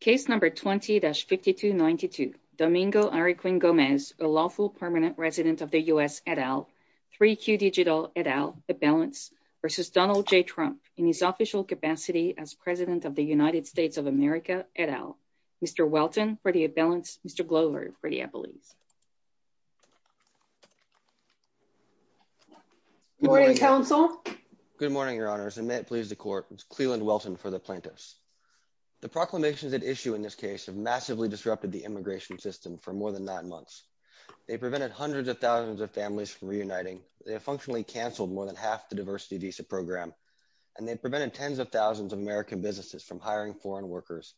case number 20-5292. Domingo Henry Quinn Gomez, a lawful permanent resident of the U.S. et al., 3Q Digital et al., at balance, versus Donald J. Trump in his official capacity as president of the United States of America et al. Mr. Welton for the at balance, Mr. Glover for the appellees. Good morning, counsel. Good morning, your honors, and may it please the court. Cleland Welton for the plaintiffs. The proclamations at issue in this case have massively disrupted the immigration system for more than nine months. They prevented hundreds of thousands of families from reuniting, they have functionally canceled more than half the diversity visa program, and they've prevented tens of thousands of American businesses from hiring foreign workers,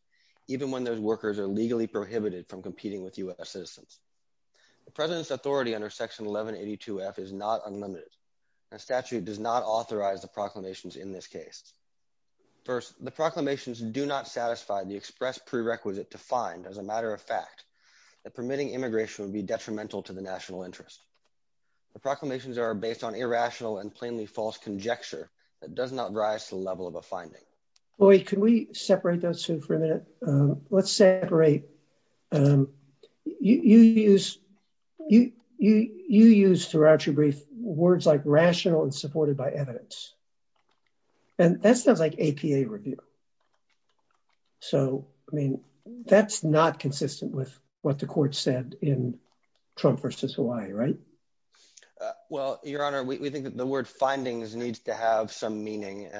even when those workers are legally prohibited from competing with U.S. citizens. The president's authority under section 1182-F is not unlimited. The statute does not authorize the proclamations in this case. First, the proclamations do not satisfy the expressed prerequisite to find, as a matter of fact, that permitting immigration would be detrimental to the national interest. The proclamations are based on irrational and plainly false conjecture that does not rise to the level of a finding. Boyd, can we separate those two for a minute? Let's separate. You use, you use words like rational and supported by evidence. And that sounds like APA review. So, I mean, that's not consistent with what the court said in Trump versus Hawaii, right? Well, Your Honor, we think that the word findings needs to have some meaning.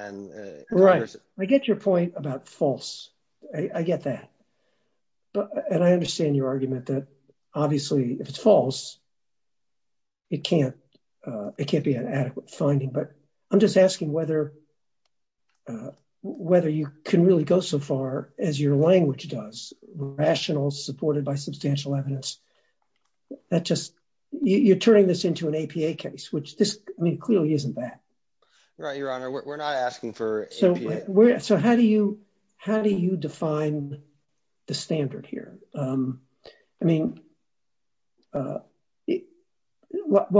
Right. I get your point about false. I get that. And I understand your argument that obviously, if it's false, it can't, it can't be an adequate finding. But I'm just asking whether, whether you can really go so far as your language does rational supported by substantial evidence that just you're turning this into an APA case, which this clearly isn't that. Right. Your Honor, we're not asking for. So how do you how do you define the standard here? I mean, well,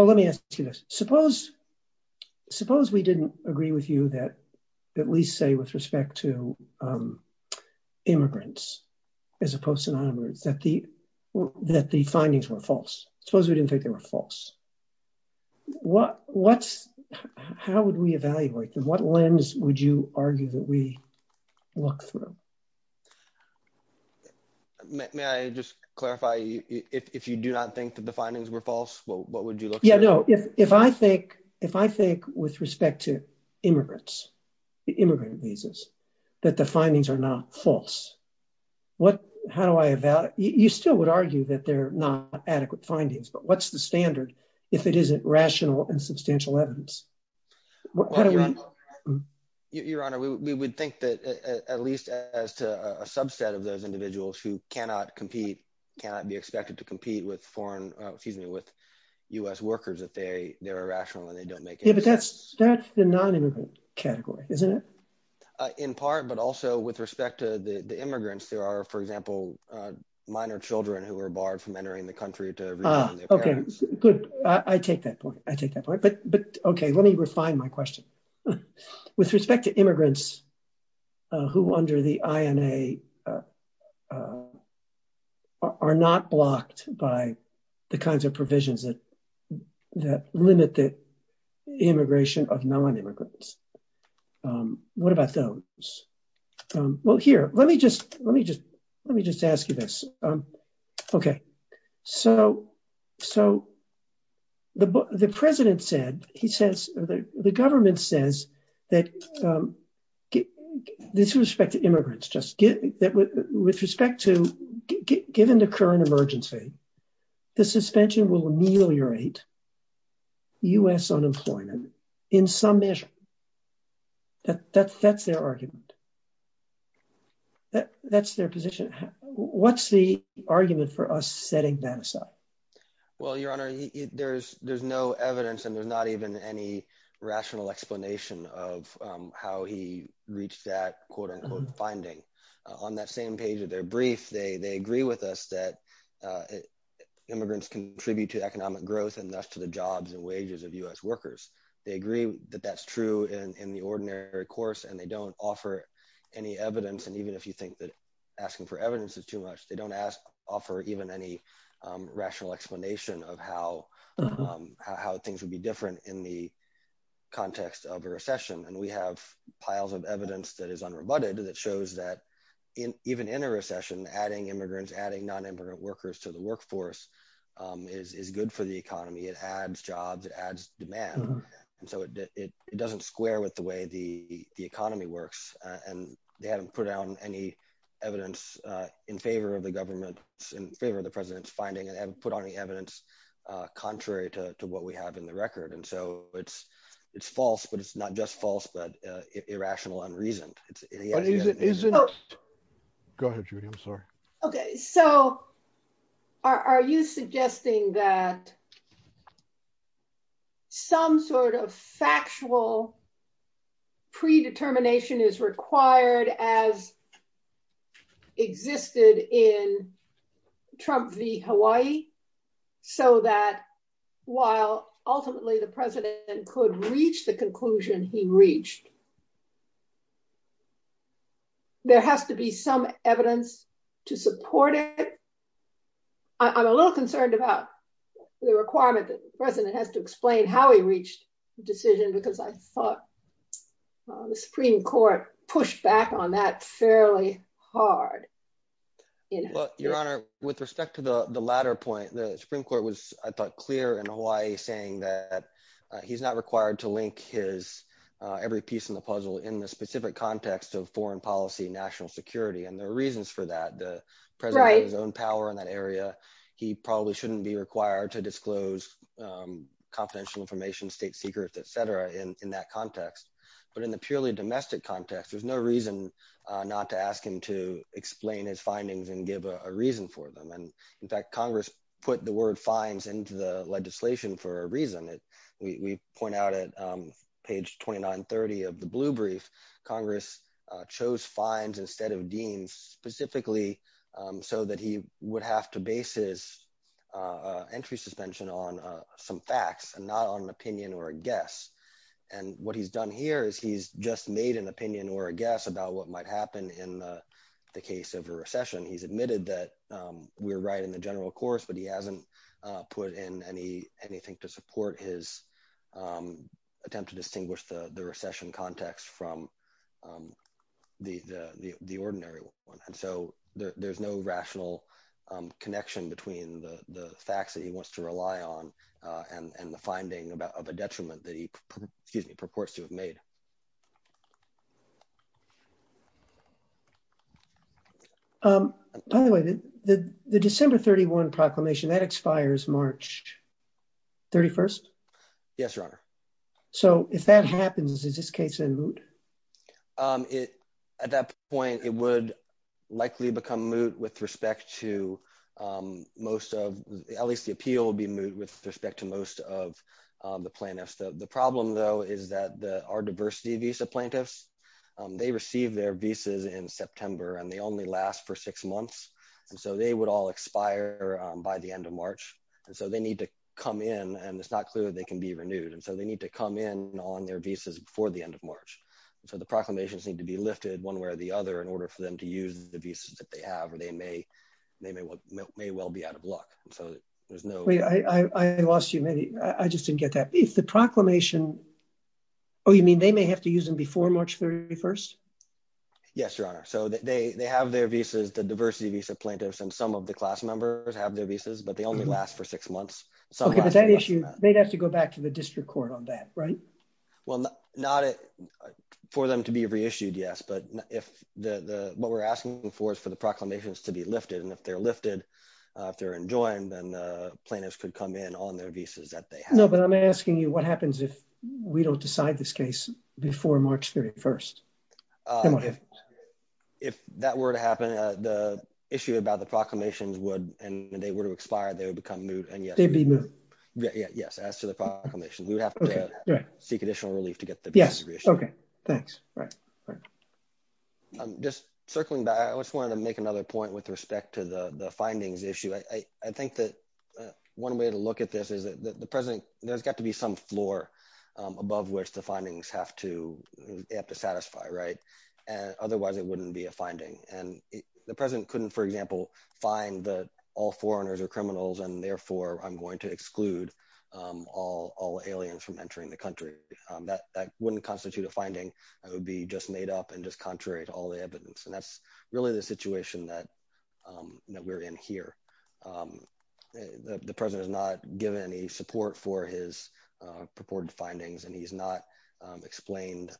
let me ask you this. Suppose, suppose we didn't agree with you that, at least say with respect to immigrants, as opposed to nonimmigrants that the that the findings were false. Suppose we didn't think they were false. What what's how would we evaluate them? What lens would you argue that we look through? May I just clarify, if you do not think that the findings were false, what would you look? Yeah, no. If I think if I think with respect to immigrants, immigrant visas, that the findings are not false, what how do I evaluate? You still would argue that they're not adequate findings, but what's the standard if it isn't rational and substantial evidence? How do we? Your Honor, we would think that at least as to a subset of those individuals who cannot compete, cannot be expected to compete with foreign, excuse me, with U.S. workers that they they're irrational and they don't make it. But that's that's the nonimmigrant category, isn't it? In part, but also with respect to the immigrants, there are, for example, minor children who are barred from entering the country to their parents. Good. I take that point. I take that point. But but OK, let me refine my question with respect to immigrants who under the INA are not blocked by the kinds of provisions that that limit the immigration of nonimmigrants. What about those? Well, here, let me just let me just let me just ask you this. OK, so so. The president said he says the government says that this respect to immigrants just get that with respect to given the current emergency, the suspension will ameliorate. U.S. unemployment in some measure. That's that's their argument. That that's their position. What's the argument for us setting that aside? Well, your honor, there's there's no evidence and there's not even any rational explanation of how he reached that quote unquote finding on that same page of their brief. They they agree with us that immigrants contribute to economic growth and thus to the jobs and wages of U.S. workers. They agree that that's true in the ordinary course and they don't offer any evidence. And even if you think that asking for evidence is too much, they don't ask offer even any rational explanation of how how things would be different in the context of a recession. And we have piles of evidence that is unrebutted that shows that even in a recession, adding immigrants, adding nonimmigrant workers to workforce is is good for the economy. It adds jobs, adds demand. And so it doesn't square with the way the the economy works. And they haven't put out any evidence in favor of the government in favor of the president's finding and put on the evidence contrary to what we have in the record. And so it's it's false, but it's not just false, but irrational and reasoned. It isn't. Oh, go ahead, Judy. I'm sorry. Okay. So are you suggesting that some sort of factual predetermination is required as existed in Trump v. Hawaii, so that while ultimately the president could reach the conclusion he reached? There has to be some evidence to support it. I'm a little concerned about the requirement that the president has to explain how he reached the decision, because I thought the Supreme Court pushed back on that fairly hard. Your Honor, with respect to the latter point, the Supreme Court was, I thought, clear in Hawaii saying that he's not required to link his every piece in the puzzle in the specific context of foreign policy, national security. And there are reasons for that. The president has his own power in that area. He probably shouldn't be required to disclose confidential information, state secrets, etc. in that context. But in the purely domestic context, there's no reason not to ask him to explain his findings and give a reason for them. And in fact, Congress put the word fines into the fines instead of deans, specifically so that he would have to base his entry suspension on some facts and not on an opinion or a guess. And what he's done here is he's just made an opinion or a guess about what might happen in the case of a recession. He's admitted that we're right in the general course, but he hasn't put in anything to support his attempt to distinguish the recession context from the ordinary one. And so there's no rational connection between the facts that he wants to rely on and the finding of a detriment that he purports to have made. By the way, the December 31 proclamation, that expires March 31st? Yes, Your Honor. So if that happens, is this case in moot? At that point, it would likely become moot with respect to most of, at least the appeal will be moot with respect to most of the plaintiffs. The problem though, is that our diversity visa plaintiffs, they receive their visas in September and they only last for six months. And so they would all expire by the end of March. And so they need to come in and it's not clear that they can be renewed. And so they need to come in on their visas before the end of March. And so the proclamations need to be lifted one way or the other in order for them to use the visas that they have, or they may well be out of luck. Wait, I lost you. I just didn't get that. If the proclamation, oh, you mean they may have to use them before March 31st? Yes, Your Honor. So they have their visas, the diversity visa plaintiffs, and some of the class members have their visas, but they only last for six months. Okay, but that issue, they'd have to go back to the district court on that, right? Well, not for them to be reissued, yes. But what we're asking for is for the proclamations to be lifted. And if they're lifted, if they're enjoined, then the plaintiffs could come in on their visas that they have. No, but I'm asking you what happens if we don't decide this case before March 31st? If that were to happen, the issue about the proclamations would, and they were to expire, they would become moot. And yes, they'd be moot. Yes, as to the proclamation, we would have to seek additional relief to get the visa reissued. Yes, okay. Thanks. I'm just circling back. I just wanted to make another point with respect to the findings issue. I think that one way to look at this is that the president, there's got to be some floor above which the findings have to satisfy, right? Otherwise, it wouldn't be a finding. And the president couldn't, for example, find that all foreigners are criminals, and therefore, I'm going to exclude all aliens from entering the country. That wouldn't constitute a finding. It would be just made up and just contrary to all the evidence. And that's really the situation that we're in here. The president has not given any support for his findings, and he's not explained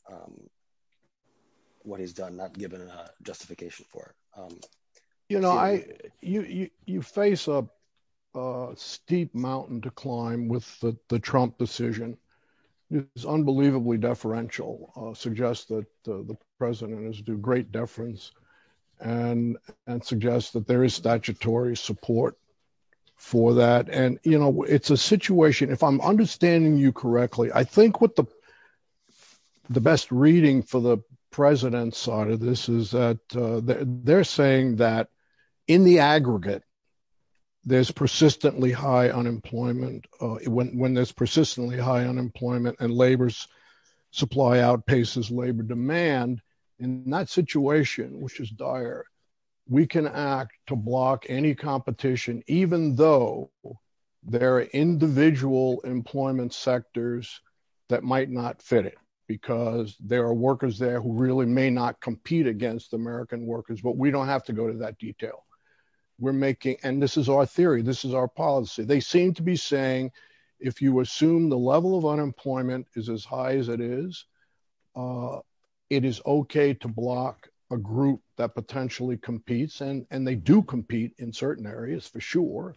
what he's done, not given a justification for it. You face a steep mountain to climb with the Trump decision. It's unbelievably deferential, suggests that the president has to do great deference and suggests that there is statutory support for that. And it's a situation, if I'm understanding you correctly, I think what the best reading for the president's side of this is that they're saying that in the aggregate, there's persistently high unemployment. When there's persistently high unemployment and supply outpaces labor demand, in that situation, which is dire, we can act to block any competition, even though there are individual employment sectors that might not fit it. Because there are workers there who really may not compete against American workers, but we don't have to go to that detail. And this is our theory, this is our policy. They as high as it is, it is okay to block a group that potentially competes, and they do compete in certain areas for sure.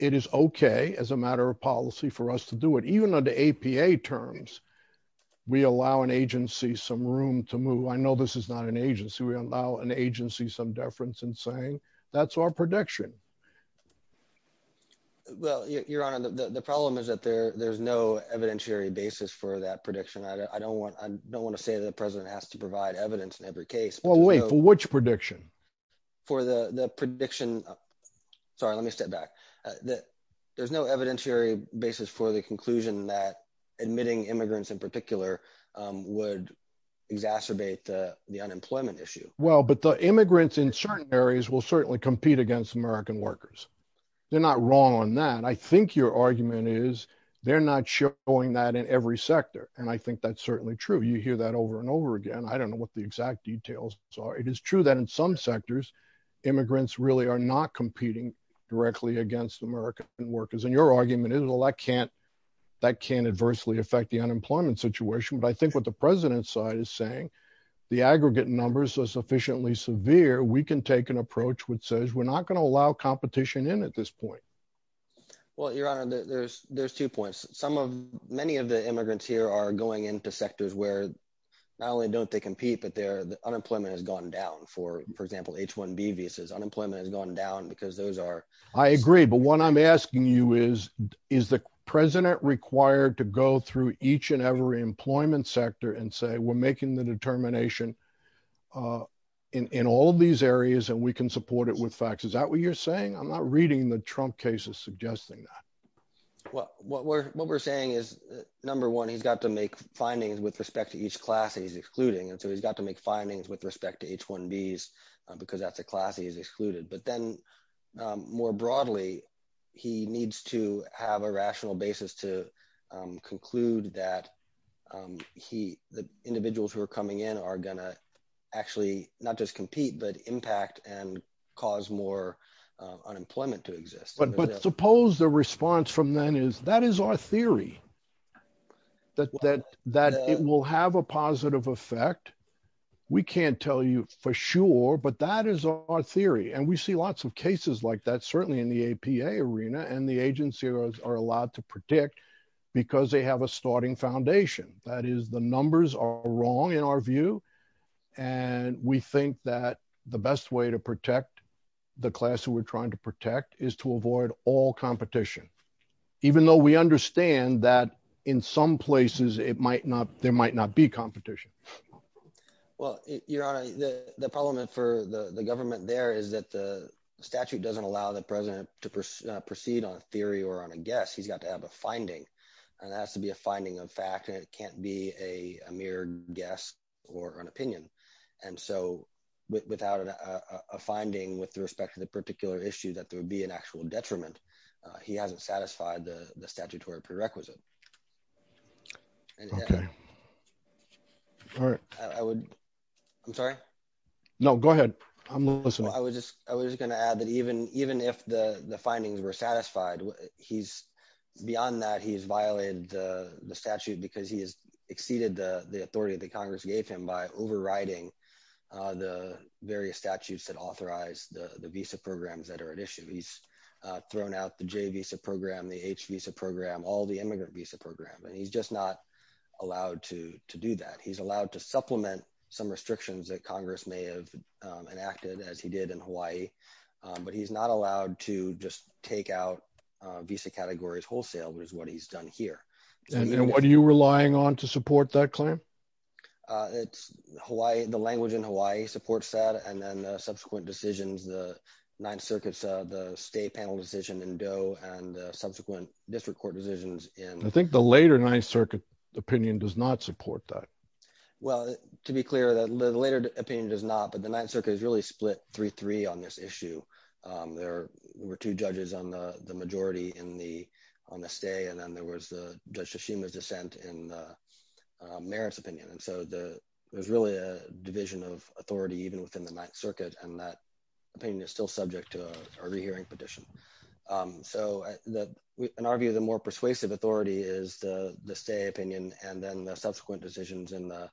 It is okay as a matter of policy for us to do it, even under APA terms. We allow an agency some room to move. I know this is not an agency. We allow an agency some deference in saying that's our prediction. Well, your honor, the problem is that there's evidentiary basis for that prediction. I don't want to say that the president has to provide evidence in every case. Well, wait, for which prediction? For the prediction. Sorry, let me step back. There's no evidentiary basis for the conclusion that admitting immigrants in particular would exacerbate the unemployment issue. Well, but the immigrants in certain areas will certainly compete against American workers. They're not wrong on that. I think your argument is they're not showing that in every sector. And I think that's certainly true. You hear that over and over again. I don't know what the exact details are. It is true that in some sectors, immigrants really are not competing directly against American workers. And your argument is, well, that can't adversely affect the unemployment situation. But I think what the president's side is saying, the aggregate numbers are sufficiently severe. We can take an approach which says we're not going to allow competition in at this point. Well, your honor, there's two points. Many of the immigrants here are going into sectors where not only don't they compete, but their unemployment has gone down. For example, H-1B visas, unemployment has gone down because those are- I agree. But what I'm asking you is, is the president required to go through each and every employment sector and say, we're making the determination in all of these areas and we support it with facts? Is that what you're saying? I'm not reading the Trump cases suggesting that. Well, what we're saying is, number one, he's got to make findings with respect to each class that he's excluding. And so he's got to make findings with respect to H-1Bs because that's a class he's excluded. But then more broadly, he needs to have a rational basis to conclude that the individuals who are coming in are going to actually not just compete, but impact and cause more unemployment to exist. But suppose the response from then is, that is our theory, that it will have a positive effect. We can't tell you for sure, but that is our theory. And we see lots of cases like that, certainly in the APA arena, and the agencies are allowed to have their own foundation. That is, the numbers are wrong in our view. And we think that the best way to protect the class who we're trying to protect is to avoid all competition. Even though we understand that in some places, there might not be competition. Well, Your Honor, the problem for the government there is that the statute doesn't allow the president to proceed on a theory or on a guess. He's got to have a finding. And that has to be a finding of fact, and it can't be a mere guess or an opinion. And so without a finding with respect to the particular issue that there would be an actual detriment, he hasn't satisfied the statutory prerequisite. Okay. All right. I'm sorry? No, go ahead. I'm listening. I was just going to add that even if the findings were satisfied, beyond that, he's violated the statute because he has exceeded the authority that Congress gave him by overriding the various statutes that authorize the visa programs that are at issue. He's thrown out the J visa program, the H visa program, all the immigrant visa program, and he's just not allowed to do that. He's allowed to supplement some restrictions that Congress may have enacted, as he did in Hawaii, but he's not allowed to just take out visa categories wholesale, which is what he's done here. And then what are you relying on to support that claim? It's Hawaii, the language in Hawaii supports that, and then subsequent decisions, the Ninth Circuit said, the state panel decision in Doe and subsequent district court decisions in- I think the later Ninth Circuit opinion does not support that. Well, to be clear, the later opinion does not, but the Ninth Circuit has really split 3-3 on this issue. There were two judges on the majority on the stay, and then there was the Judge Tsushima's dissent in Merritt's opinion. And so there's really a division of authority even within the Ninth Circuit, and that opinion is still subject to a rehearing petition. So in our view, the more persuasive authority is the stay opinion and then the subsequent decisions in the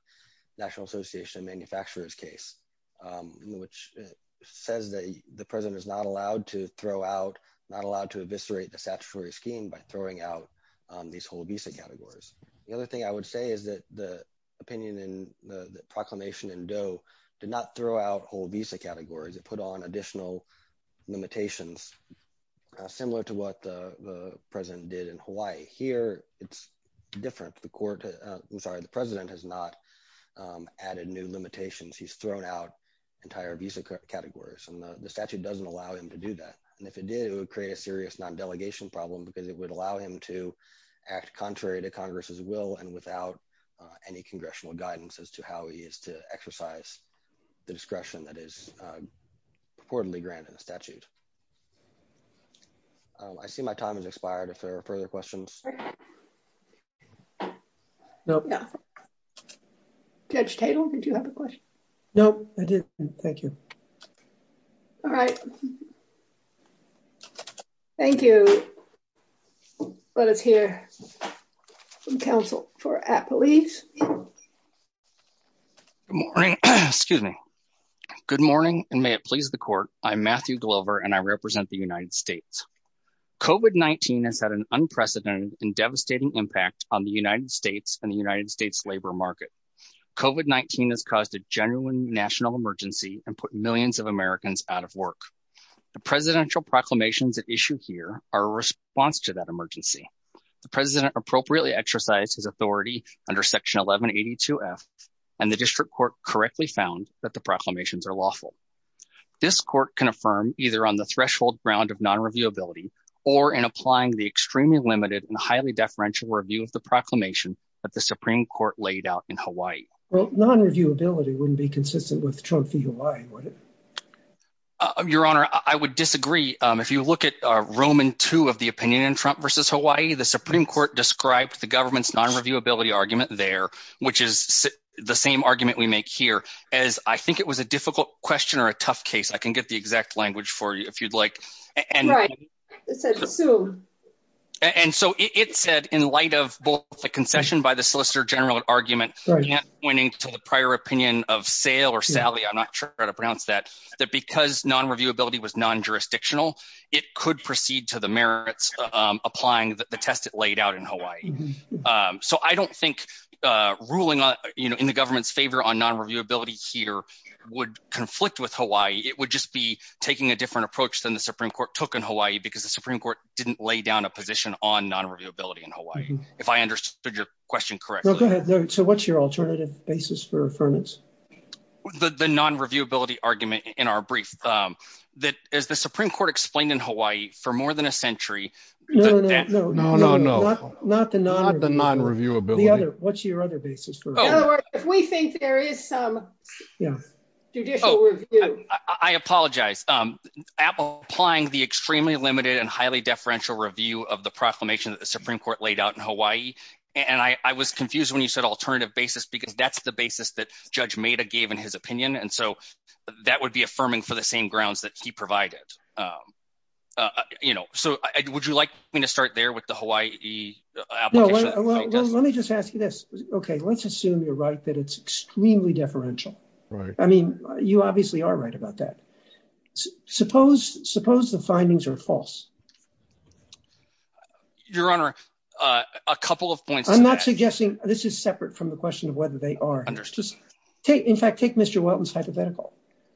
National Association of Manufacturers case, which says that the president is not allowed to throw out, not allowed to eviscerate the statutory scheme by throwing out these whole visa categories. The other thing I would say is that the opinion in the proclamation in Doe did not throw out whole visa categories. It put on additional limitations, similar to what the president did in Hawaii. Here, it's different. The president has not added new limitations. He's thrown out entire visa categories, and the statute doesn't allow him to do that. And if it did, it would create a serious non-delegation problem because it would allow him to act contrary to Congress's will and without any congressional guidance as to how he is to do that. I think my time has expired if there are further questions. Judge Tatel, did you have a question? No, I didn't. Thank you. All right. Thank you. Let us hear from counsel for at police. Good morning, excuse me. Good morning, and may it please the court. I'm Matthew Glover, and I represent the United States. COVID-19 has had an unprecedented and devastating impact on the United States and the United States labor market. COVID-19 has caused a genuine national emergency and put millions of Americans out of work. The presidential proclamations at issue here are a response to that emergency. The president appropriately exercised his authority under Section 1182F, and the district court correctly found that the proclamations are lawful. This court can affirm either on the threshold ground of non-reviewability or in applying the extremely limited and highly deferential review of the proclamation that the Supreme Court laid out in Hawaii. Well, non-reviewability wouldn't be consistent with Trump v. Hawaii, would it? Your Honor, I would disagree. If you look at Roman II of the opinion in Trump v. Hawaii, the Supreme Court described the government's non-reviewability argument there, which is the argument we make here, as I think it was a difficult question or a tough case. I can get the exact language for you if you'd like. Right. It said, sue. And so it said in light of both the concession by the Solicitor General and argument pointing to the prior opinion of Sayle or Sally, I'm not sure how to pronounce that, that because non-reviewability was non-jurisdictional, it could proceed to the merits applying the test it laid out in Hawaii. So I don't think ruling in the government's favor on non-reviewability here would conflict with Hawaii. It would just be taking a different approach than the Supreme Court took in Hawaii, because the Supreme Court didn't lay down a position on non-reviewability in Hawaii, if I understood your question correctly. Go ahead. So what's your alternative basis for affirmance? The non-reviewability argument in our brief, that as the Supreme Court explained in the- No, no, no. Not the non-reviewability. What's your other basis for- In other words, if we think there is some judicial review- I apologize. Applying the extremely limited and highly deferential review of the proclamation that the Supreme Court laid out in Hawaii. And I was confused when you said alternative basis, because that's the basis that Judge Maida gave in his opinion. And so that would be affirming for the same grounds that he provided. So would you like me to start there with the Hawaii application? No, let me just ask you this. Okay, let's assume you're right that it's extremely deferential. I mean, you obviously are right about that. Suppose the findings are false. Your Honor, a couple of points- I'm not suggesting- This is separate from the question of whether they are. In fact, take Mr. Welton's hypothetical.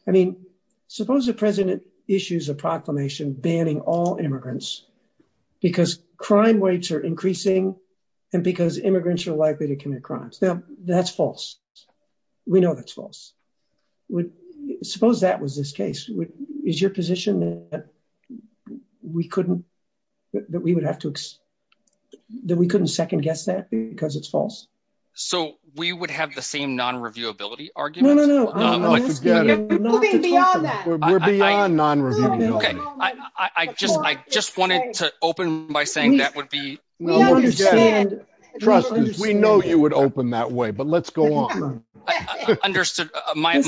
I mean, suppose the President issues a proclamation banning all immigrants because crime rates are increasing and because immigrants are likely to commit crimes. Now, that's false. We know that's false. Suppose that was this case. Is your position that we couldn't- that we would have to- that we couldn't second guess that because it's false? So we would have the same non-reviewability argument? No, no, no. We're moving beyond that. We're beyond non-reviewability. Okay. I just wanted to open by saying that would be- We understand. Trust us. We know you would open that way, but let's go on. Understood. I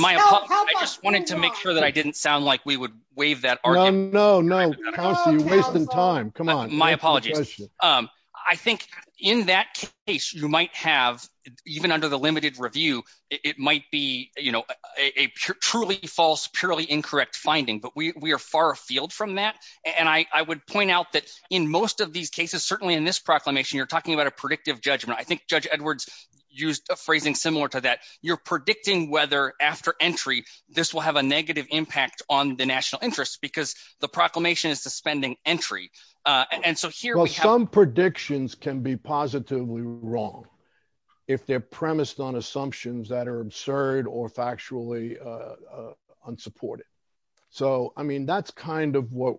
just wanted to make sure that I didn't sound like we would waive that argument. No, no. Kelsey, you're wasting time. Come on. My apologies. I think in that case, you might have, even under the limited review, it might be a truly false, purely incorrect finding, but we are far afield from that. And I would point out that in most of these cases, certainly in this proclamation, you're talking about a predictive judgment. I think Judge Edwards used a phrasing similar to that. You're predicting whether after entry, this will have a negative impact on the national interest because the proclamation is suspending entry. And so here we have- Well, some predictions can be positively wrong if they're premised on assumptions that are absurd or factually unsupported. So, I mean, that's kind of what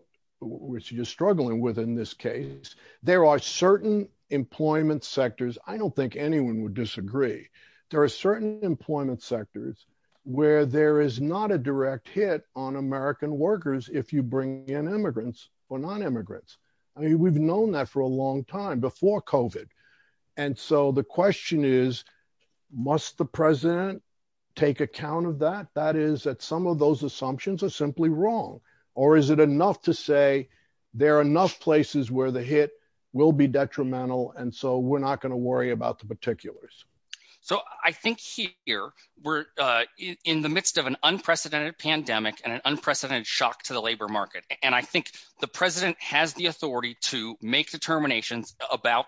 you're struggling with in this case. There are certain employment sectors. I don't think anyone would disagree. There are certain employment sectors where there is not a direct hit on American workers if you bring in immigrants or non-immigrants. I mean, we've known that for a long time before COVID. And so the question is, must the president take account of that? That is that some of those assumptions are simply wrong. Or is it enough to say there are enough places where the hit will be detrimental, and so we're not going to worry about the particulars? So I think here, we're in the midst of an unprecedented pandemic and an unprecedented shock to the labor market. And I think the president has the authority to make determinations about-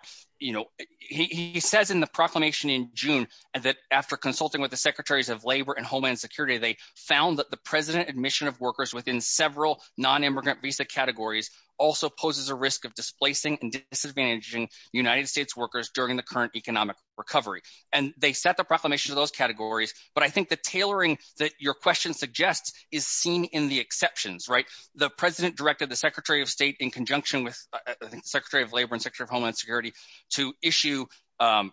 He says in the proclamation in June that after consulting with the secretaries of labor and homeland security, they found that the president admission of workers within several non-immigrant visa categories also poses a risk of displacing and disadvantaging United States workers during the current economic recovery. And they set the proclamation to those categories. But I think the tailoring that your question suggests is seen in the exceptions, right? The president directed the secretary of state in conjunction with the secretary of labor and secretary of homeland security to issue a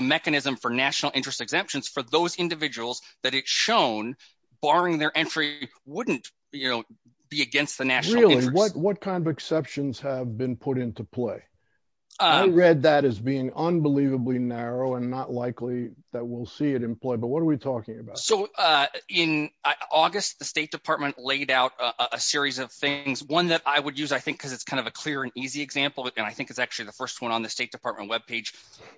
mechanism for national interest exemptions for those individuals that it's shown, barring their entry, wouldn't be against the national- Really? What kind of exceptions have been put into play? I read that as being unbelievably narrow and not likely that we'll see it employed, but what are we talking about? So in August, the state department laid out a series of things. One that I would use, I think, because it's kind of a clear and easy example. And I think it's actually the first one on the state department webpage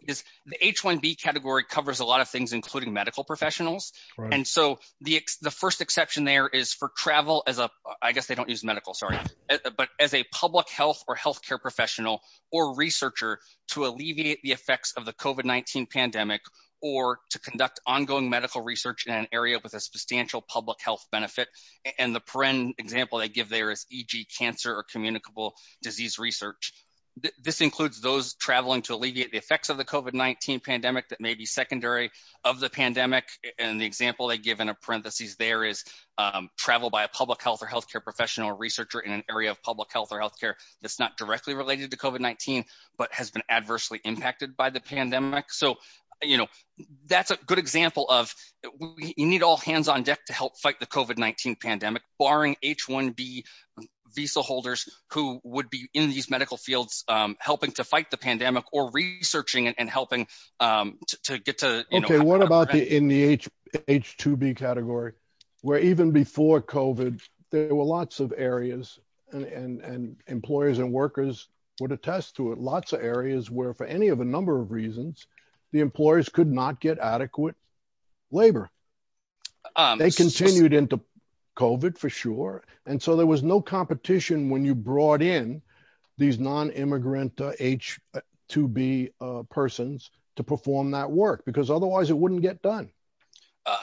is the H-1B category covers a lot of things, including medical professionals. And so the first exception there is for travel as a, I guess they don't use medical, sorry, but as a public health or healthcare professional or researcher to alleviate the COVID-19 pandemic or to conduct ongoing medical research in an area with a substantial public health benefit. And the example they give there is e.g. cancer or communicable disease research. This includes those traveling to alleviate the effects of the COVID-19 pandemic that may be secondary of the pandemic. And the example they give in a parentheses there is travel by a public health or healthcare professional or researcher in an area of public health or healthcare. It's not directly related to COVID-19, but has been adversely impacted by the pandemic. So that's a good example of, you need all hands on deck to help fight the COVID-19 pandemic, barring H-1B visa holders who would be in these medical fields helping to fight the pandemic or researching and helping to get to- Okay. What about in the H-2B category, where even before COVID, there were lots of areas and employers and workers would attest to it. Lots of areas where for any of a number of reasons, the employers could not get adequate labor. They continued into COVID for sure. And so there was no competition when you brought in these non-immigrant H-2B persons to perform that work because otherwise it wouldn't get done.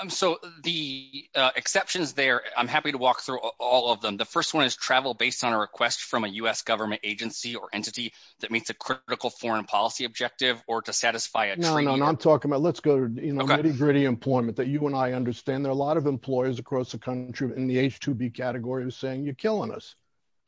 So the exceptions there, I'm happy to walk through all of them. The first one is travel based on a request from a U.S. government agency or entity that meets a critical foreign policy objective or to satisfy a- No, no, no. I'm talking about, let's go to nitty-gritty employment that you and I understand. There are a lot of employers across the country in the H-2B category who's saying, you're killing us.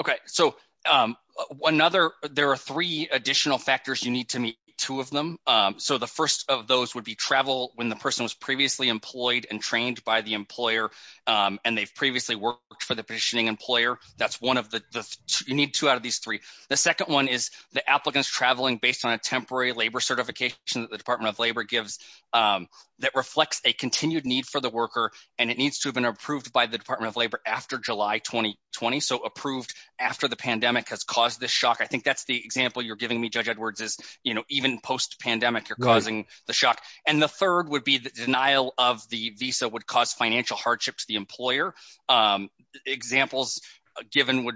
Okay. So there are three additional factors you need to meet, two of them. So the first of those would be travel when the person was previously employed and trained by the employer, and they've previously worked for the petitioning employer. That's one of the- You need two out of these three. The second one is the applicants traveling based on a temporary labor certification that the Department of Labor gives that reflects a continued need for the worker, and it needs to have been approved by the Department of Labor after July, 2020. So approved after the pandemic has caused this shock. I think that's the example you're giving me, Judge Edwards, is even post-pandemic, you're causing the shock. And the third would be the denial of the visa would cause financial hardship to the employer. Examples given would,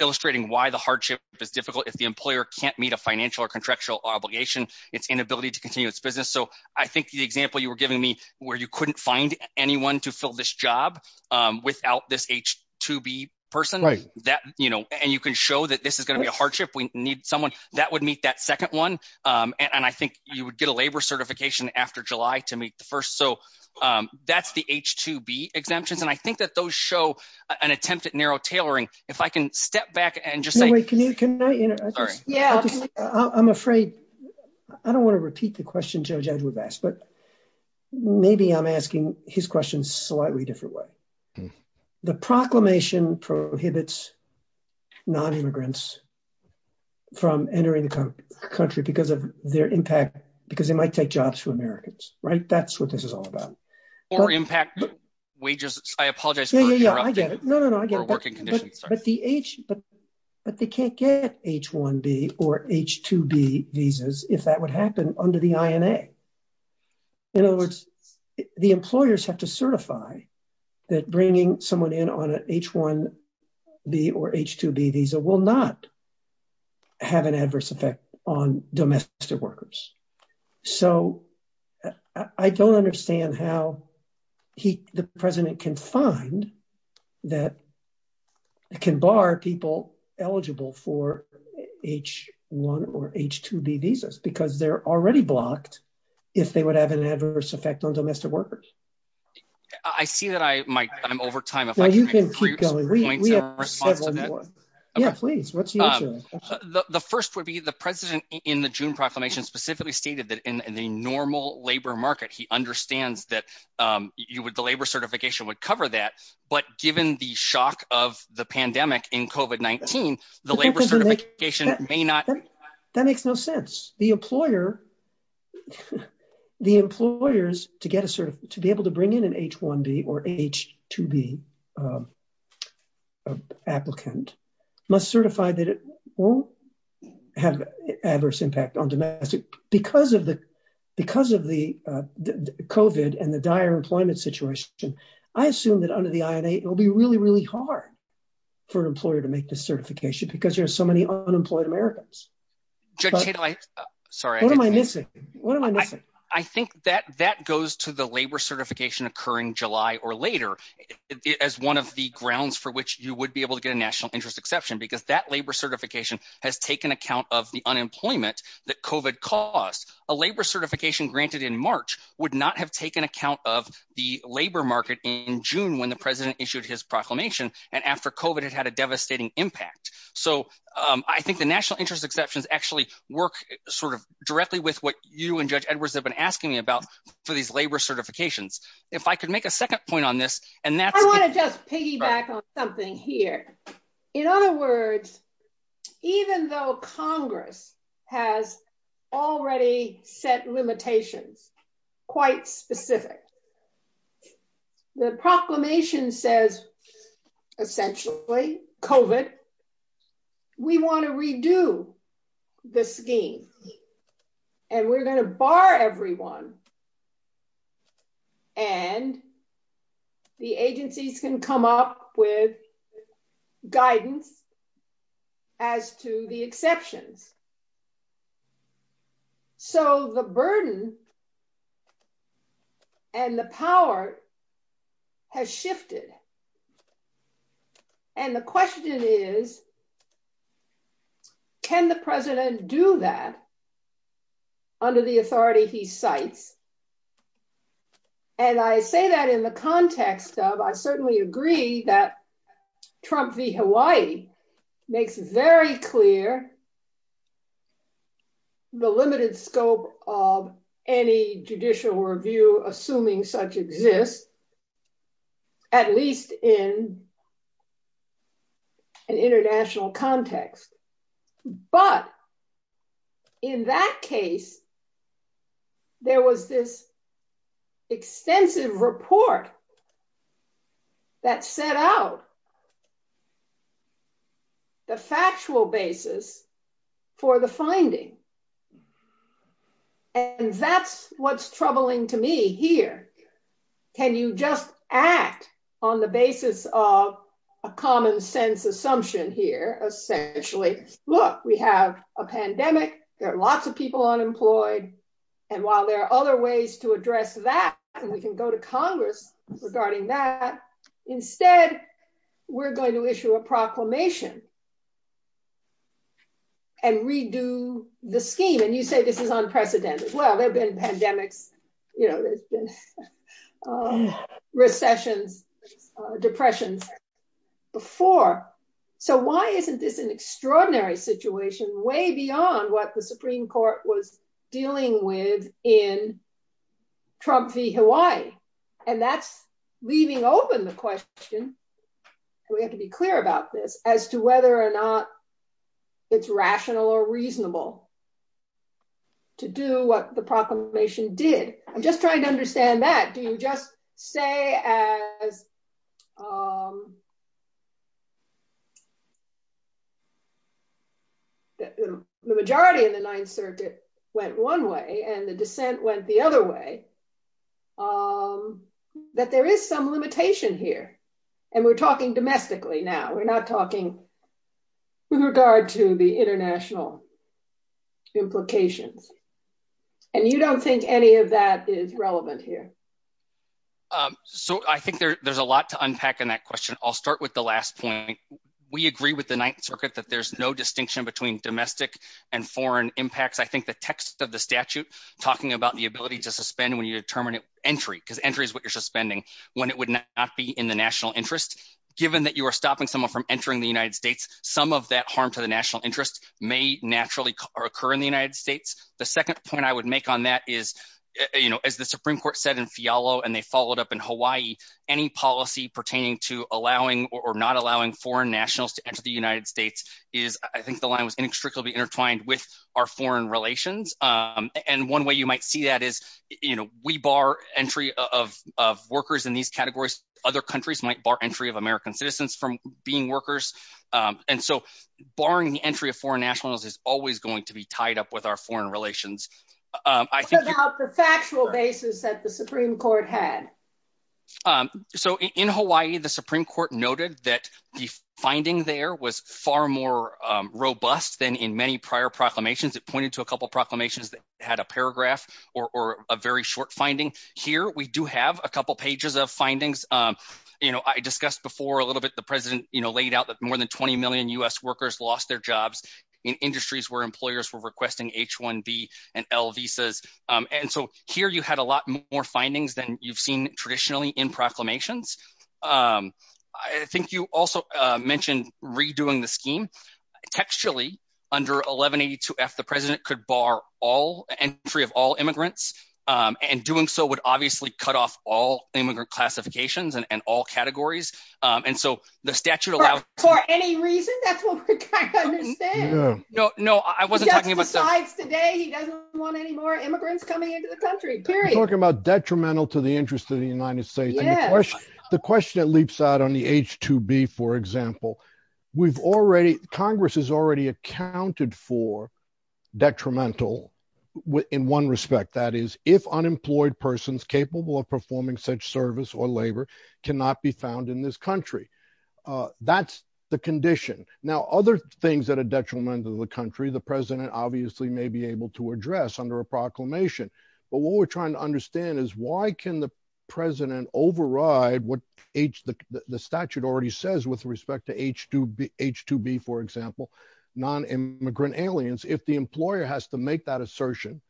illustrating why the hardship is difficult if the employer can't meet a financial or contractual obligation, its inability to continue its business. So I think the example you were giving me where you couldn't find anyone to fill this job without this H-2B person, and you can show that this is going to be a hardship, we need someone, that would meet that second one. And I think you would get a labor certification after July to meet the first. So that's the H-2B exemptions. And I think that those show an attempt at narrow tailoring. If I can step back and just say- Can I interrupt? I'm afraid, I don't want to repeat the question Judge Edwards asked, but maybe I'm asking his question slightly different way. The proclamation prohibits non-immigrants from entering the country because of their impact, because they might take jobs from Americans, right? That's what this is all about. Or impact wages. I apologize for interrupting. Yeah, yeah, yeah, I get it. No, no, no, I get it. Or working conditions, sorry. But they can't get H-1B or H-2B visas if that would happen under the INA. In other words, the employers have to certify that bringing someone in on an H-1B or H-2B visa will not have an adverse effect on domestic workers. So I don't understand how the president can find that, can bar people eligible for H-1 or H-2B visas, because they're already blocked if they would have an adverse effect on domestic workers. I see that I might, I'm over time. Yeah, please, what's the issue? The first would be the president in the June proclamation specifically stated that in the normal labor market, he understands that the labor certification would cover that. But given the shock of the pandemic in COVID-19, the labor certification may not. That makes no sense. The employer, the employers to be able to bring in an H-1B or H-2B applicant must certify that it won't have adverse impact on domestic. Because of the COVID and the dire employment situation, I assume that under the INA, it will be really, really hard for an because there's so many unemployed Americans. What am I missing? I think that that goes to the labor certification occurring July or later, as one of the grounds for which you would be able to get a national interest exception, because that labor certification has taken account of the unemployment that COVID caused. A labor certification granted in March would not have taken account of the labor market in June when president issued his proclamation. And after COVID, it had a devastating impact. So I think the national interest exceptions actually work sort of directly with what you and Judge Edwards have been asking me about for these labor certifications. If I could make a second point on this, and that's- I want to just piggyback on something here. In other words, even though Congress has already set limitations, quite specific, the proclamation says, essentially, COVID, we want to redo the scheme. And we're going to bar everyone. And the agencies can come up with guidance as to the exceptions. So the burden and the power has shifted. And the question is, can the president do that under the authority he cites? And I say that in the context of, I certainly agree that Trump v. Hawaii makes very clear the limited scope of any judicial review, assuming such exists, at least in an international context. But in that case, there was this extensive report that set out the factual basis for the finding. And that's what's troubling to me here. Can you just act on the basis of a common sense assumption here, essentially, look, we have a pandemic, there are lots of people unemployed. And while there are other ways to address that, and we can go to Congress regarding that, instead, we're going to issue a proclamation and redo the scheme. And you say this is unprecedented. Well, there have been pandemics, you know, there's been recessions, depressions before. So why isn't this an extraordinary situation way beyond what the Supreme Court was dealing with in Trump v. Hawaii? And that's leaving open the question. We have to be clear about this as to whether or not it's rational or reasonable to do what the proclamation did. I'm just trying to understand that. Do you just say as the majority in the Ninth Circuit went one way and the dissent went the that there is some limitation here. And we're talking domestically now we're not talking with regard to the international implications. And you don't think any of that is relevant here. So I think there's a lot to unpack in that question. I'll start with the last point. We agree with the Ninth Circuit that there's no distinction between domestic and foreign impacts. I think the text of the statute talking about the ability to suspend when you determine entry because entry is what you're suspending when it would not be in the national interest. Given that you are stopping someone from entering the United States, some of that harm to the national interest may naturally occur in the United States. The second point I would make on that is, you know, as the Supreme Court said in Fiallo and they followed up in Hawaii, any policy pertaining to allowing or not allowing foreign nationals to enter the United States is I think the line was inextricably intertwined with our foreign relations. And we bar entry of workers in these categories. Other countries might bar entry of American citizens from being workers. And so barring the entry of foreign nationals is always going to be tied up with our foreign relations. I think about the factual basis that the Supreme Court had. So in Hawaii, the Supreme Court noted that the finding there was far more robust than in many proclamations. It pointed to a couple of proclamations that had a paragraph or a very short finding. Here we do have a couple pages of findings. You know, I discussed before a little bit the president laid out that more than 20 million U.S. workers lost their jobs in industries where employers were requesting H-1B and L visas. And so here you had a lot more findings than you've seen traditionally in proclamations. I think you also mentioned redoing the scheme. Textually, under 1182F, the president could bar all entry of all immigrants. And doing so would obviously cut off all immigrant classifications and all categories. And so the statute allowed- For any reason, that's what we're trying to understand. No, no, I wasn't talking about- Just besides today, he doesn't want any more immigrants coming into the country, period. We're talking about detrimental to the interest of the United States. The question that leaps out on the H-2B, for example, Congress has already accounted for detrimental in one respect. That is, if unemployed persons capable of performing such service or labor cannot be found in this country. That's the condition. Now, other things that are detrimental to the country, the president obviously may be able to address under a proclamation. But what we're trying to understand is why can the president override what the statute already says with respect to H-2B, for example, non-immigrant aliens. If the employer has to make that assertion,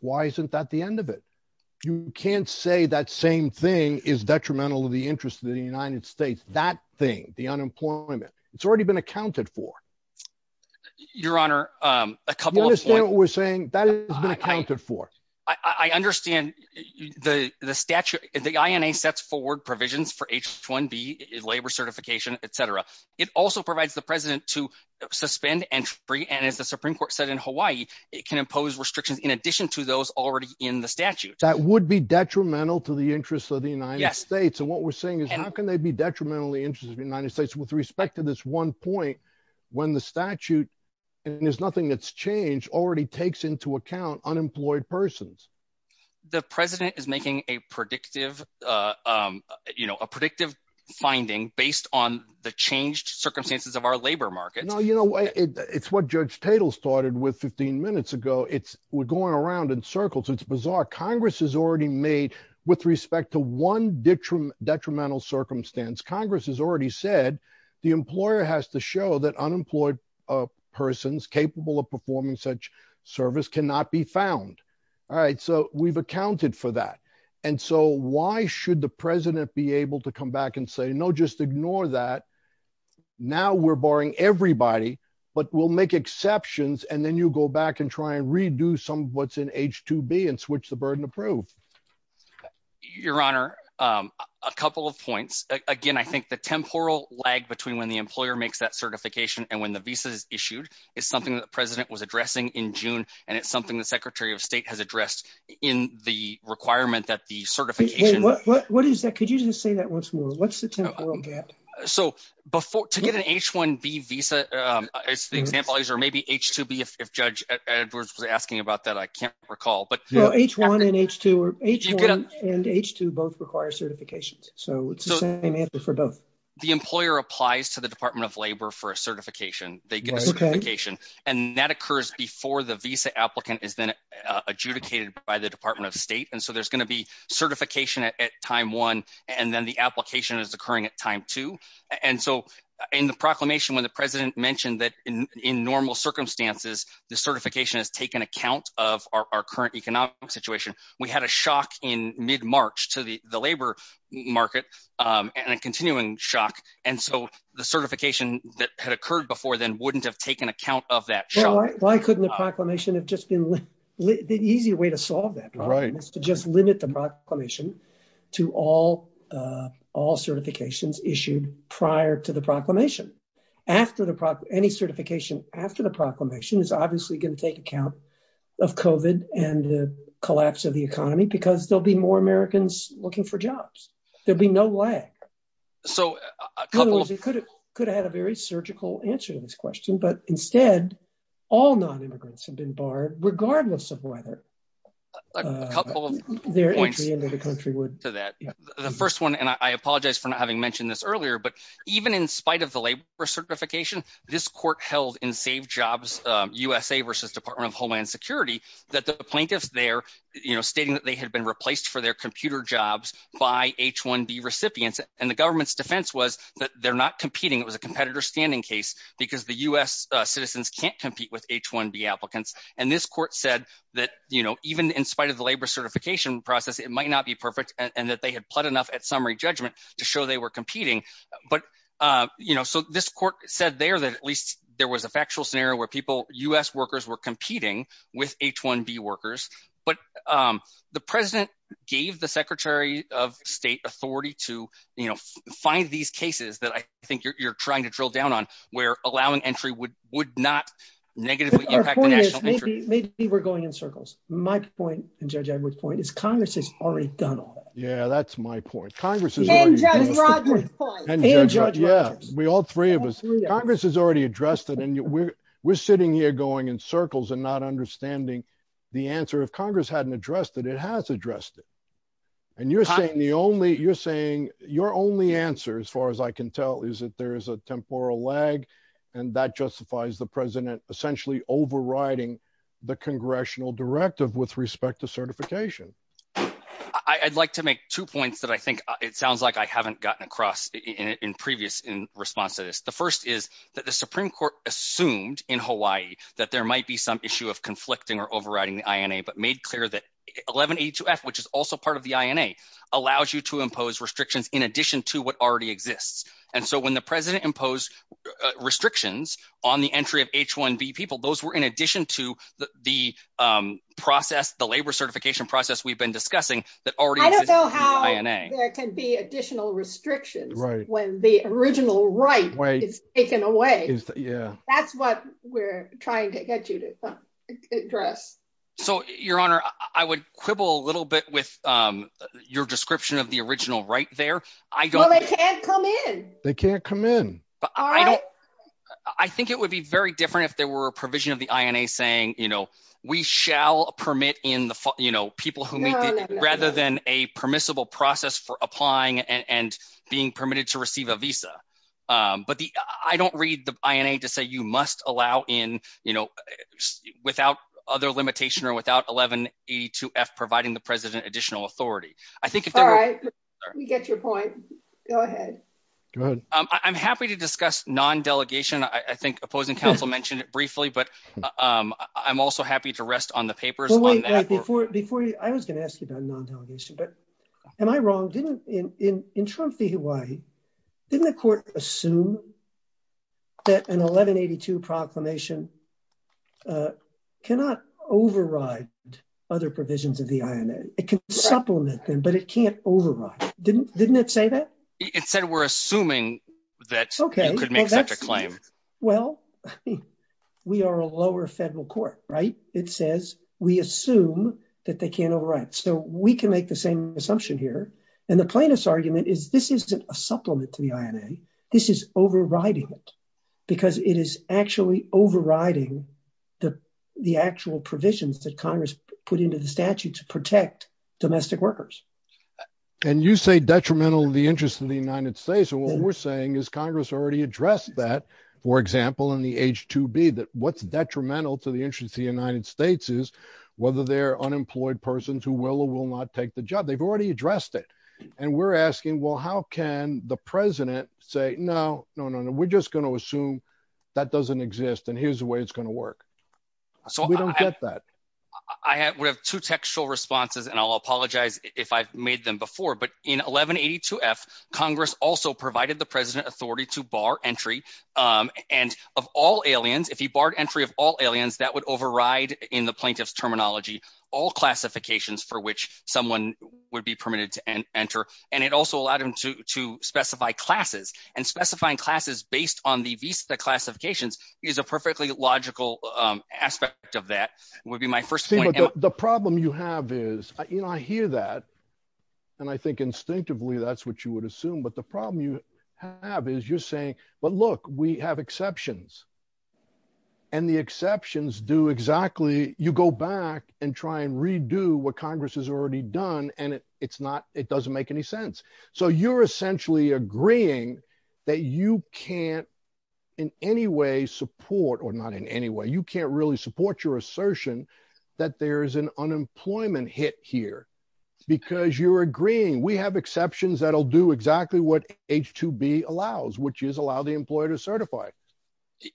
why isn't that the end of it? You can't say that same thing is detrimental to the interest of the United States. That thing, the unemployment, it's already been accounted for. Your Honor, a couple of- I understand the statute, the INA sets forward provisions for H-2B, labor certification, et cetera. It also provides the president to suspend entry. And as the Supreme Court said in Hawaii, it can impose restrictions in addition to those already in the statute. That would be detrimental to the interests of the United States. And what we're saying is how can they be detrimental to the interests of the United States with respect to this one point when the statute, and there's nothing that's changed, already takes into account unemployed persons? The president is making a predictive finding based on the changed circumstances of our labor market. No, it's what Judge Tatel started with 15 minutes ago. We're going around in circles. It's bizarre. Congress has already made, with respect to one detrimental circumstance, Congress has already said the employer has to show that unemployed persons capable of performing such service cannot be found. All right. So we've accounted for that. And so why should the president be able to come back and say, no, just ignore that. Now we're barring everybody, but we'll make exceptions. And then you go back and try and redo some of what's in H-2B and switch the burden to prove. Your Honor, a couple of points. Again, I think the temporal lag between when the employer makes that certification and when the visa is issued is something that the president was addressing in June. And it's something the secretary of state has addressed in the requirement that the certification... What is that? Could you just say that once more? What's the temporal gap? So to get an H-1B visa, as the example is, or maybe H-2B, if Judge Edwards was asking about that, I can't recall. H-1 and H-2 both require certifications. So it's the same answer for both. The employer applies to the Department of Labor for a certification. They get a certification. And that occurs before the visa applicant is then adjudicated by the Department of State. And so there's going to be certification at time one, and then the application is occurring at time two. And so in the proclamation, when the president mentioned that in normal circumstances, the certification has taken account of our current economic situation, we had a shock in mid-March to the labor market and a continuing shock. And so the certification that had occurred before then wouldn't have taken account of that shock. Why couldn't the proclamation have just been... The easy way to solve that problem is to just limit the proclamation to all certifications issued prior to the proclamation. After any certification after the proclamation is obviously going to take account of COVID and the collapse of the economy because there'll be more Americans looking for jobs. There'll be no lag. In other words, it could have had a very surgical answer to this question, but instead, all non-immigrants have been barred, regardless of whether their entry into the country would... A couple of points to that. The first one, and I apologize for not having mentioned this earlier, but even in spite of the labor certification, this court held in Save Jobs USA versus Department of Homeland Security, that the plaintiffs there stating that they had been replaced for their computer jobs by H-1B recipients, and the government's defense was that they're not competing. It was a competitor standing case because the US citizens can't compete with H-1B applicants. And this court said that even in spite of the labor certification process, it might not be But so this court said there that at least there was a factual scenario where people, US workers were competing with H-1B workers, but the president gave the Secretary of State authority to find these cases that I think you're trying to drill down on, where allowing entry would not negatively impact the national entry. Maybe we're going in circles. My point, and Judge Edwards' point, is Congress has already done all that. Yeah, that's my point. Congress has already addressed it, and we're sitting here going in circles and not understanding the answer. If Congress hadn't addressed it, it has addressed it. And you're saying your only answer, as far as I can tell, is that there is a temporal lag, and that justifies the president essentially overriding the congressional directive with respect to certification. I'd like to make two points that I think it sounds like I haven't gotten across in previous responses. The first is that the Supreme Court assumed in Hawaii that there might be some issue of conflicting or overriding the INA, but made clear that 1182F, which is also part of the INA, allows you to impose restrictions in addition to what already exists. And so when the president imposed restrictions on the entry of H-1B people, those were in addition to the process, the labor certification process we've been discussing, that already exists in the INA. I don't know how there can be additional restrictions when the original right is taken away. That's what we're trying to get you to address. So, Your Honor, I would quibble a little bit with your description of the original right there. Well, they can't come in. They can't come in. I don't, I think it would be very different if there were a provision of the INA saying, you know, we shall permit in the, you know, people who, rather than a permissible process for applying and being permitted to receive a visa. But the, I don't read the INA to say you must allow in, you know, without other limitation or without 1182F providing the president additional authority. I think if they're right, we get your point. Go ahead. I'm happy to discuss non-delegation. I think opposing counsel mentioned it briefly, but I'm also happy to rest on the papers on that. Before you, I was going to ask you about non-delegation, but am I wrong? In Trump v. Hawaii, didn't the court assume that an 1182 proclamation cannot override other provisions of the INA? It can supplement them, but it can't assume that you could make such a claim. Well, we are a lower federal court, right? It says we assume that they can't override. So we can make the same assumption here. And the plaintiff's argument is this isn't a supplement to the INA. This is overriding it because it is actually overriding the actual provisions that Congress put into the statute to protect domestic workers. And you say detrimental to the interest of the United States. And what we're saying is Congress already addressed that, for example, in the H-2B, that what's detrimental to the interest of the United States is whether they're unemployed persons who will or will not take the job. They've already addressed it. And we're asking, well, how can the president say, no, no, no, no, we're just going to assume that doesn't exist and here's the way it's going to work. So we don't get that. I would have two textual responses and I'll apologize if I've made them before, but in 1182F, Congress also provided the president authority to bar entry. And of all aliens, if he barred entry of all aliens, that would override in the plaintiff's terminology, all classifications for which someone would be permitted to enter. And it also allowed him to specify classes and specifying classes based on the visa classifications is a perfectly logical aspect of that would be my first point. The problem you have is, you know, I hear that. And I think instinctively, that's what you would assume. But the problem you have is you're saying, but look, we have exceptions and the exceptions do exactly. You go back and try and redo what Congress has already done. And it's not, it doesn't make any sense. So you're essentially agreeing that you can't in any way support or not in any way, you can't really support your assertion that there is an unemployment hit here because you're agreeing. We have exceptions that'll do exactly what H2B allows, which is allow the employer to certify.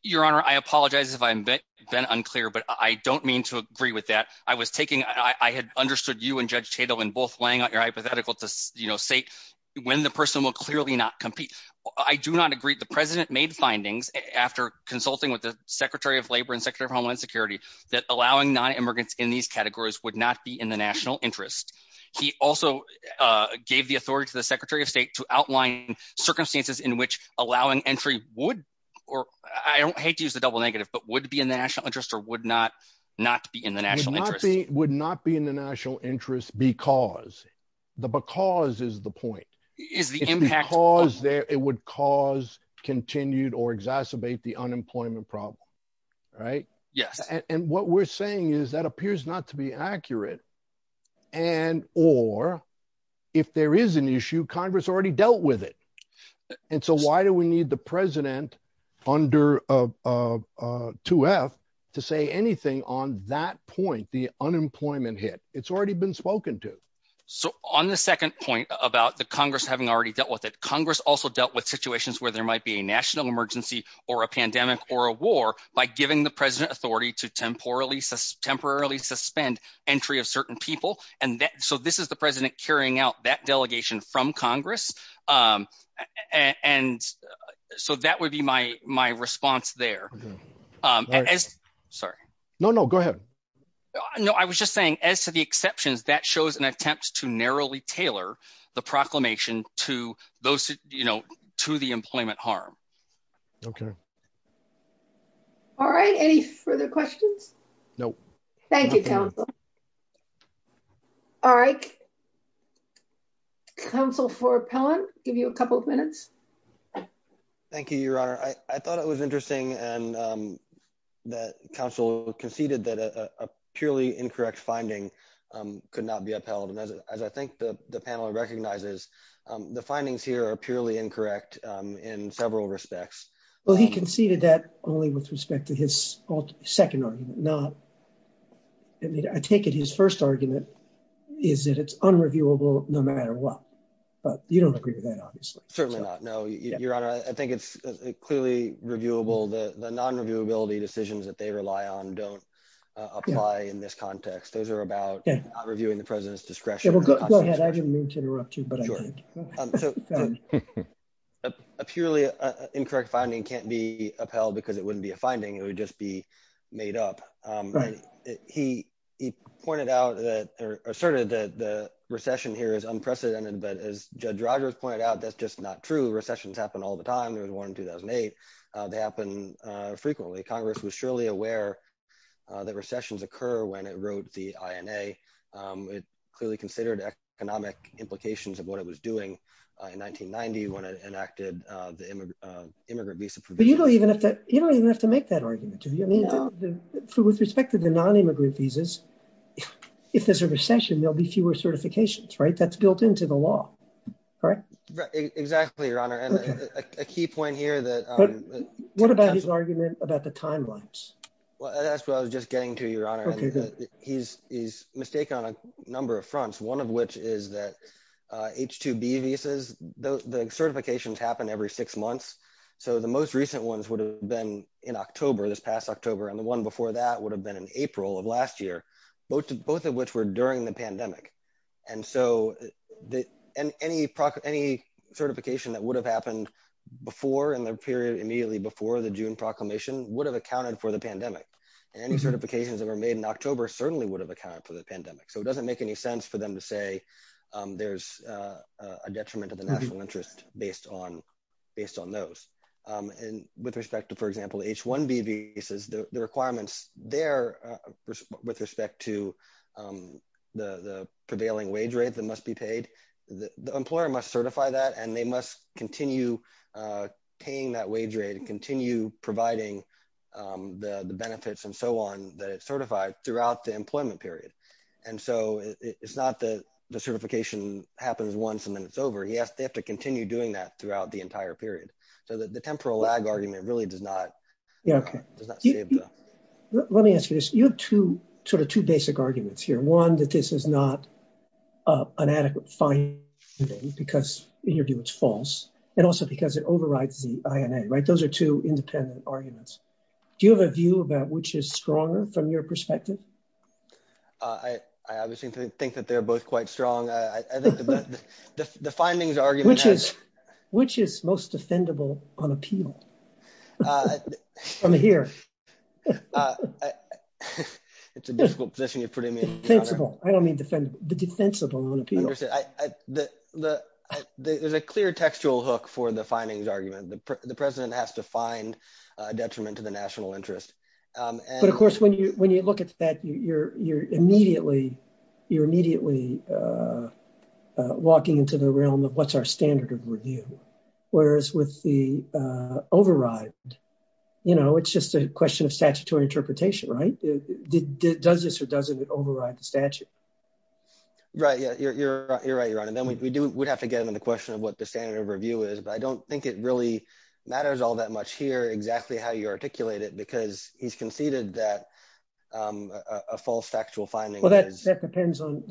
Your honor, I apologize if I've been unclear, but I don't mean to agree with that. I was taking, I had understood you and judge Tatum in both laying out your hypothetical to say when the person will clearly not compete. I do not agree. The president made findings after consulting with the secretary of labor Homeland Security, that allowing non-immigrants in these categories would not be in the national interest. He also gave the authority to the secretary of state to outline circumstances in which allowing entry would, or I don't hate to use the double negative, but would be in the national interest or would not, not be in the national interest. Would not be in the national interest because, the because is the point. It's because it would cause continued or exacerbate unemployment problem, right? Yes. And what we're saying is that appears not to be accurate. And, or if there is an issue, Congress already dealt with it. And so why do we need the president under 2F to say anything on that point, the unemployment hit? It's already been spoken to. So on the second point about the Congress having already dealt with it, Congress also dealt with a pandemic or a war by giving the president authority to temporarily suspend entry of certain people. And that, so this is the president carrying out that delegation from Congress. And so that would be my response there. Sorry. No, no, go ahead. No, I was just saying as to the exceptions that shows an attempt to narrowly tailor the proclamation to those, you know, to the employment harm. Okay. All right. Any further questions? No. Thank you, counsel. All right. Counsel for Appellant, give you a couple of minutes. Thank you, your honor. I thought it was interesting and that counsel conceded that a purely incorrect finding could not be upheld. And as I think the panel recognizes the findings here are purely incorrect in several respects. Well, he conceded that only with respect to his second argument, not, I mean, I take it his first argument is that it's unreviewable no matter what, but you don't agree with that, obviously. Certainly not. No, your honor. I think it's clearly reviewable. The non-reviewability decisions that they rely on don't apply in this context. Those are about reviewing the president's discretion. Go ahead. I didn't mean to interrupt you, but a purely incorrect finding can't be upheld because it wouldn't be a finding. It would just be made up. He pointed out that or asserted that the recession here is unprecedented, but as Judge Rogers pointed out, that's just not true. Recessions happen all the time. There was one in 2008. They happen frequently. Congress was surely aware that recessions occur when it wrote the INA. It clearly considered economic implications of what it was doing in 1990 when it enacted the immigrant visa provision. But you don't even have to make that argument. With respect to the non-immigrant visas, if there's a recession, there'll be fewer certifications, right? That's built into the law, correct? Exactly, your honor. And a key point here that... What about his argument about the timelines? Well, that's what I was just getting to, he's mistaken on a number of fronts, one of which is that H-2B visas, the certifications happen every six months. So the most recent ones would have been in October, this past October, and the one before that would have been in April of last year, both of which were during the pandemic. And so any certification that would have happened before in the period immediately before the June proclamation would have accounted for the pandemic. And any certifications that were made in October certainly would have accounted for the pandemic. So it doesn't make any sense for them to say there's a detriment to the national interest based on those. And with respect to, for example, H-1B visas, the requirements there with respect to the prevailing wage rate that must be paid, the employer must certify that and they must continue paying that providing the benefits and so on that it's certified throughout the employment period. And so it's not that the certification happens once and then it's over. Yes, they have to continue doing that throughout the entire period. So the temporal lag argument really does not... Let me ask you this. You have two basic arguments here. One, that this is not an adequate finding because in your view it's false. And also because it overrides the INA. Those are two independent arguments. Do you have a view about which is stronger from your perspective? I obviously think that they're both quite strong. The findings argument... Which is most defendable on appeal from here? It's a difficult position you're putting me in. Defensible. I don't mean defendable, but defensible on appeal. There's a clear textual hook for the findings argument. The president has to find a detriment to the national interest. But of course, when you look at that, you're immediately walking into the realm of what's our standard of review. Whereas with the override, it's just a question of statutory interpretation, right? Does this or doesn't it override the statute? Right. Yeah, you're right, Your Honor. And then we'd have to get into the question of what the matters all that much here, exactly how you articulate it, because he's conceded that a false factual finding... Well, that depends on...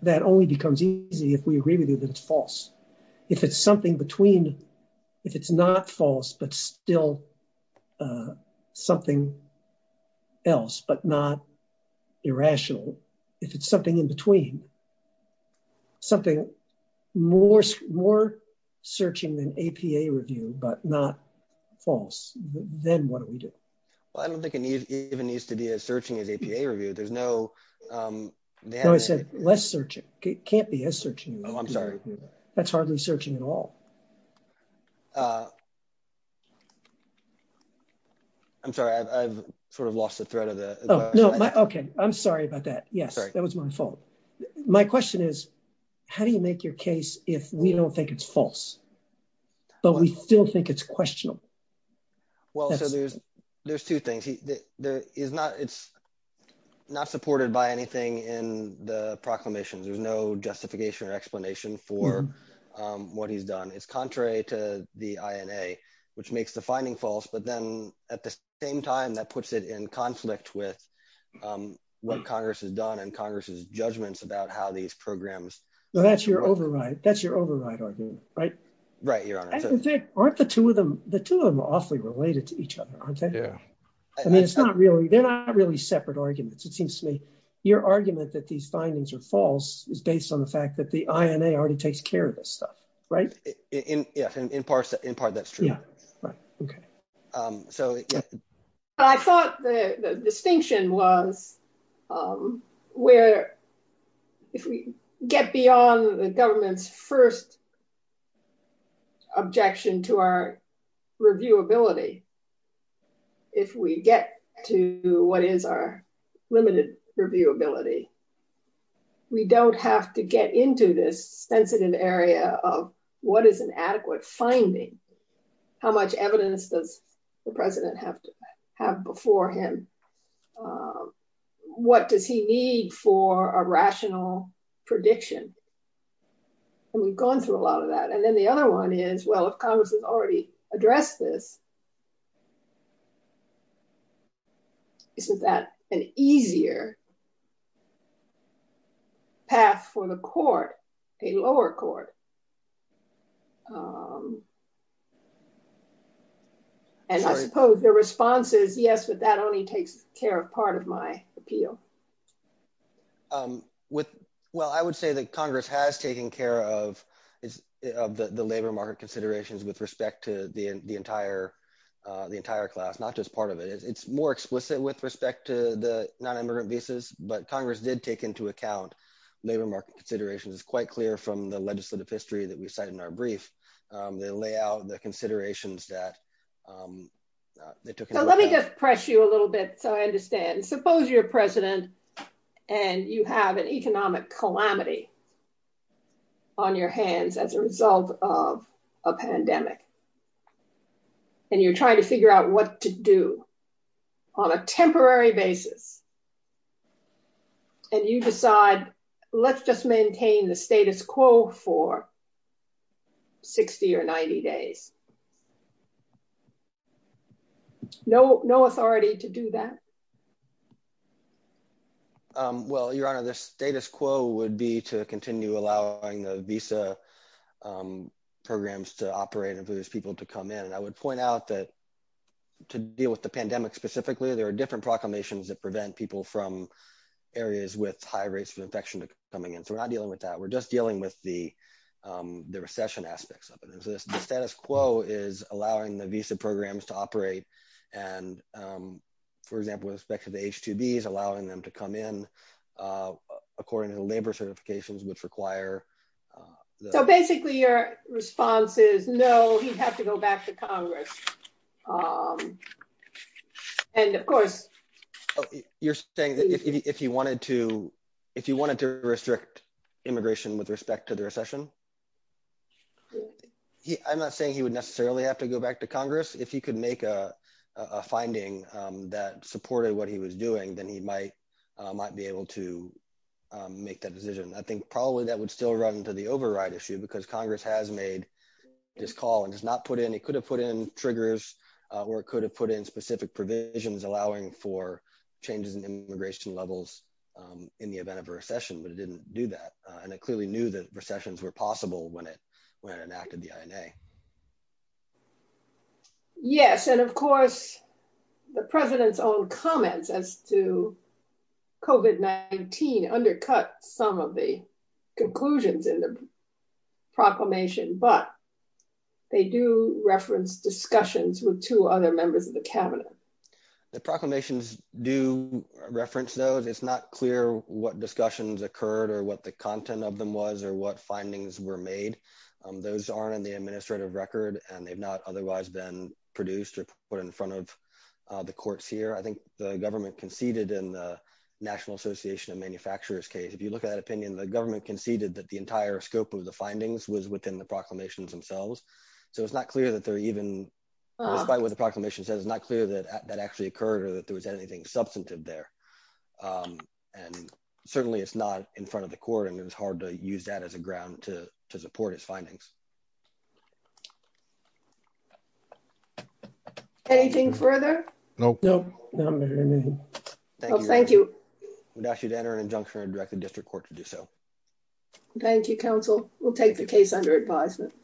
That only becomes easy if we agree with you that it's false. If it's something between... If it's not false, but still something else, but not APA review, but not false, then what do we do? Well, I don't think it even needs to be as searching as APA review. There's no... No, I said less searching. It can't be as searching. Oh, I'm sorry. That's hardly searching at all. I'm sorry. I've sort of lost the thread of the... Oh, no. Okay. I'm sorry about that. Yes, that was my fault. My question is, how do you make your case if we don't think it's false? But we still think it's questionable. Well, so there's two things. It's not supported by anything in the proclamations. There's no justification or explanation for what he's done. It's contrary to the INA, which makes the finding false, but then at the same time, that puts it in conflict with what Congress has done and Congress's judgments about how these programs... Well, that's your override argument, right? Right, Your Honor. Aren't the two of them... The two of them are awfully related to each other, aren't they? Yeah. I mean, it's not really... They're not really separate arguments. It seems to me your argument that these findings are false is based on the fact that the INA already takes care of this stuff, right? Yeah. In part, that's true. Okay. I thought the distinction was where if we get beyond the government's first objection to our reviewability, if we get to what is our limited reviewability, we don't have to get into this sensitive area of what is an adequate finding, how much evidence does the president have before him, what does he need for a rational prediction? And we've gone through a lot of that. And then the other one is, well, if Congress has already taken care of the labor market considerations, does Congress have a path for the court, a lower court? And I suppose the response is, yes, but that only takes care of part of my appeal. Well, I would say that Congress has taken care of the labor market considerations with respect to the entire class, not just part of it. It's more explicit with respect to the non-immigrant visas, but Congress did take into account labor market considerations. It's quite clear from the legislative history that we cited in our brief, they lay out the considerations that they took- So let me just press you a little bit so I understand. Suppose you're president and you have an economic calamity on your hands as a result of a pandemic. And you're trying to figure out what to do on a temporary basis. And you decide, let's just maintain the status quo for 60 or 90 days. No authority to do that. Well, Your Honor, the status quo would be to continue allowing the visa programs to operate and for those people to come in. And I would point out that to deal with the pandemic specifically, there are different proclamations that prevent people from areas with high rates of infection coming in. So we're not dealing with that. We're just dealing with the recession aspects of it. And so the status quo is allowing the visa programs to operate. And for example, with respect to the H-2Bs, allowing them to come in according to labor certifications, which require- So basically your response is, no, he'd have to go back to Congress. And of course- You're saying if he wanted to restrict immigration with respect to the recession? I'm not saying he would necessarily have to go back to Congress. If he could make a decision, then he might be able to make that decision. I think probably that would still run into the override issue because Congress has made this call and has not put in, it could have put in triggers or it could have put in specific provisions allowing for changes in immigration levels in the event of a recession, but it didn't do that. And it clearly knew that recessions were possible when it enacted the INA. Yes. And of course, the President's comments as to COVID-19 undercut some of the conclusions in the proclamation, but they do reference discussions with two other members of the cabinet. The proclamations do reference those. It's not clear what discussions occurred or what the content of them was or what findings were made. Those aren't in the administrative record and have not otherwise been produced or put in front of the courts here. I think the government conceded in the National Association of Manufacturers case. If you look at that opinion, the government conceded that the entire scope of the findings was within the proclamations themselves. So it's not clear that they're even, despite what the proclamation says, it's not clear that that actually occurred or that there was anything substantive there. And certainly it's not in front of the court and it was hard to use that as a ground to address. Anything further? No. Thank you. We'd ask you to enter an injunction and direct the district court to do so. Thank you, counsel. We'll take the case under advisement.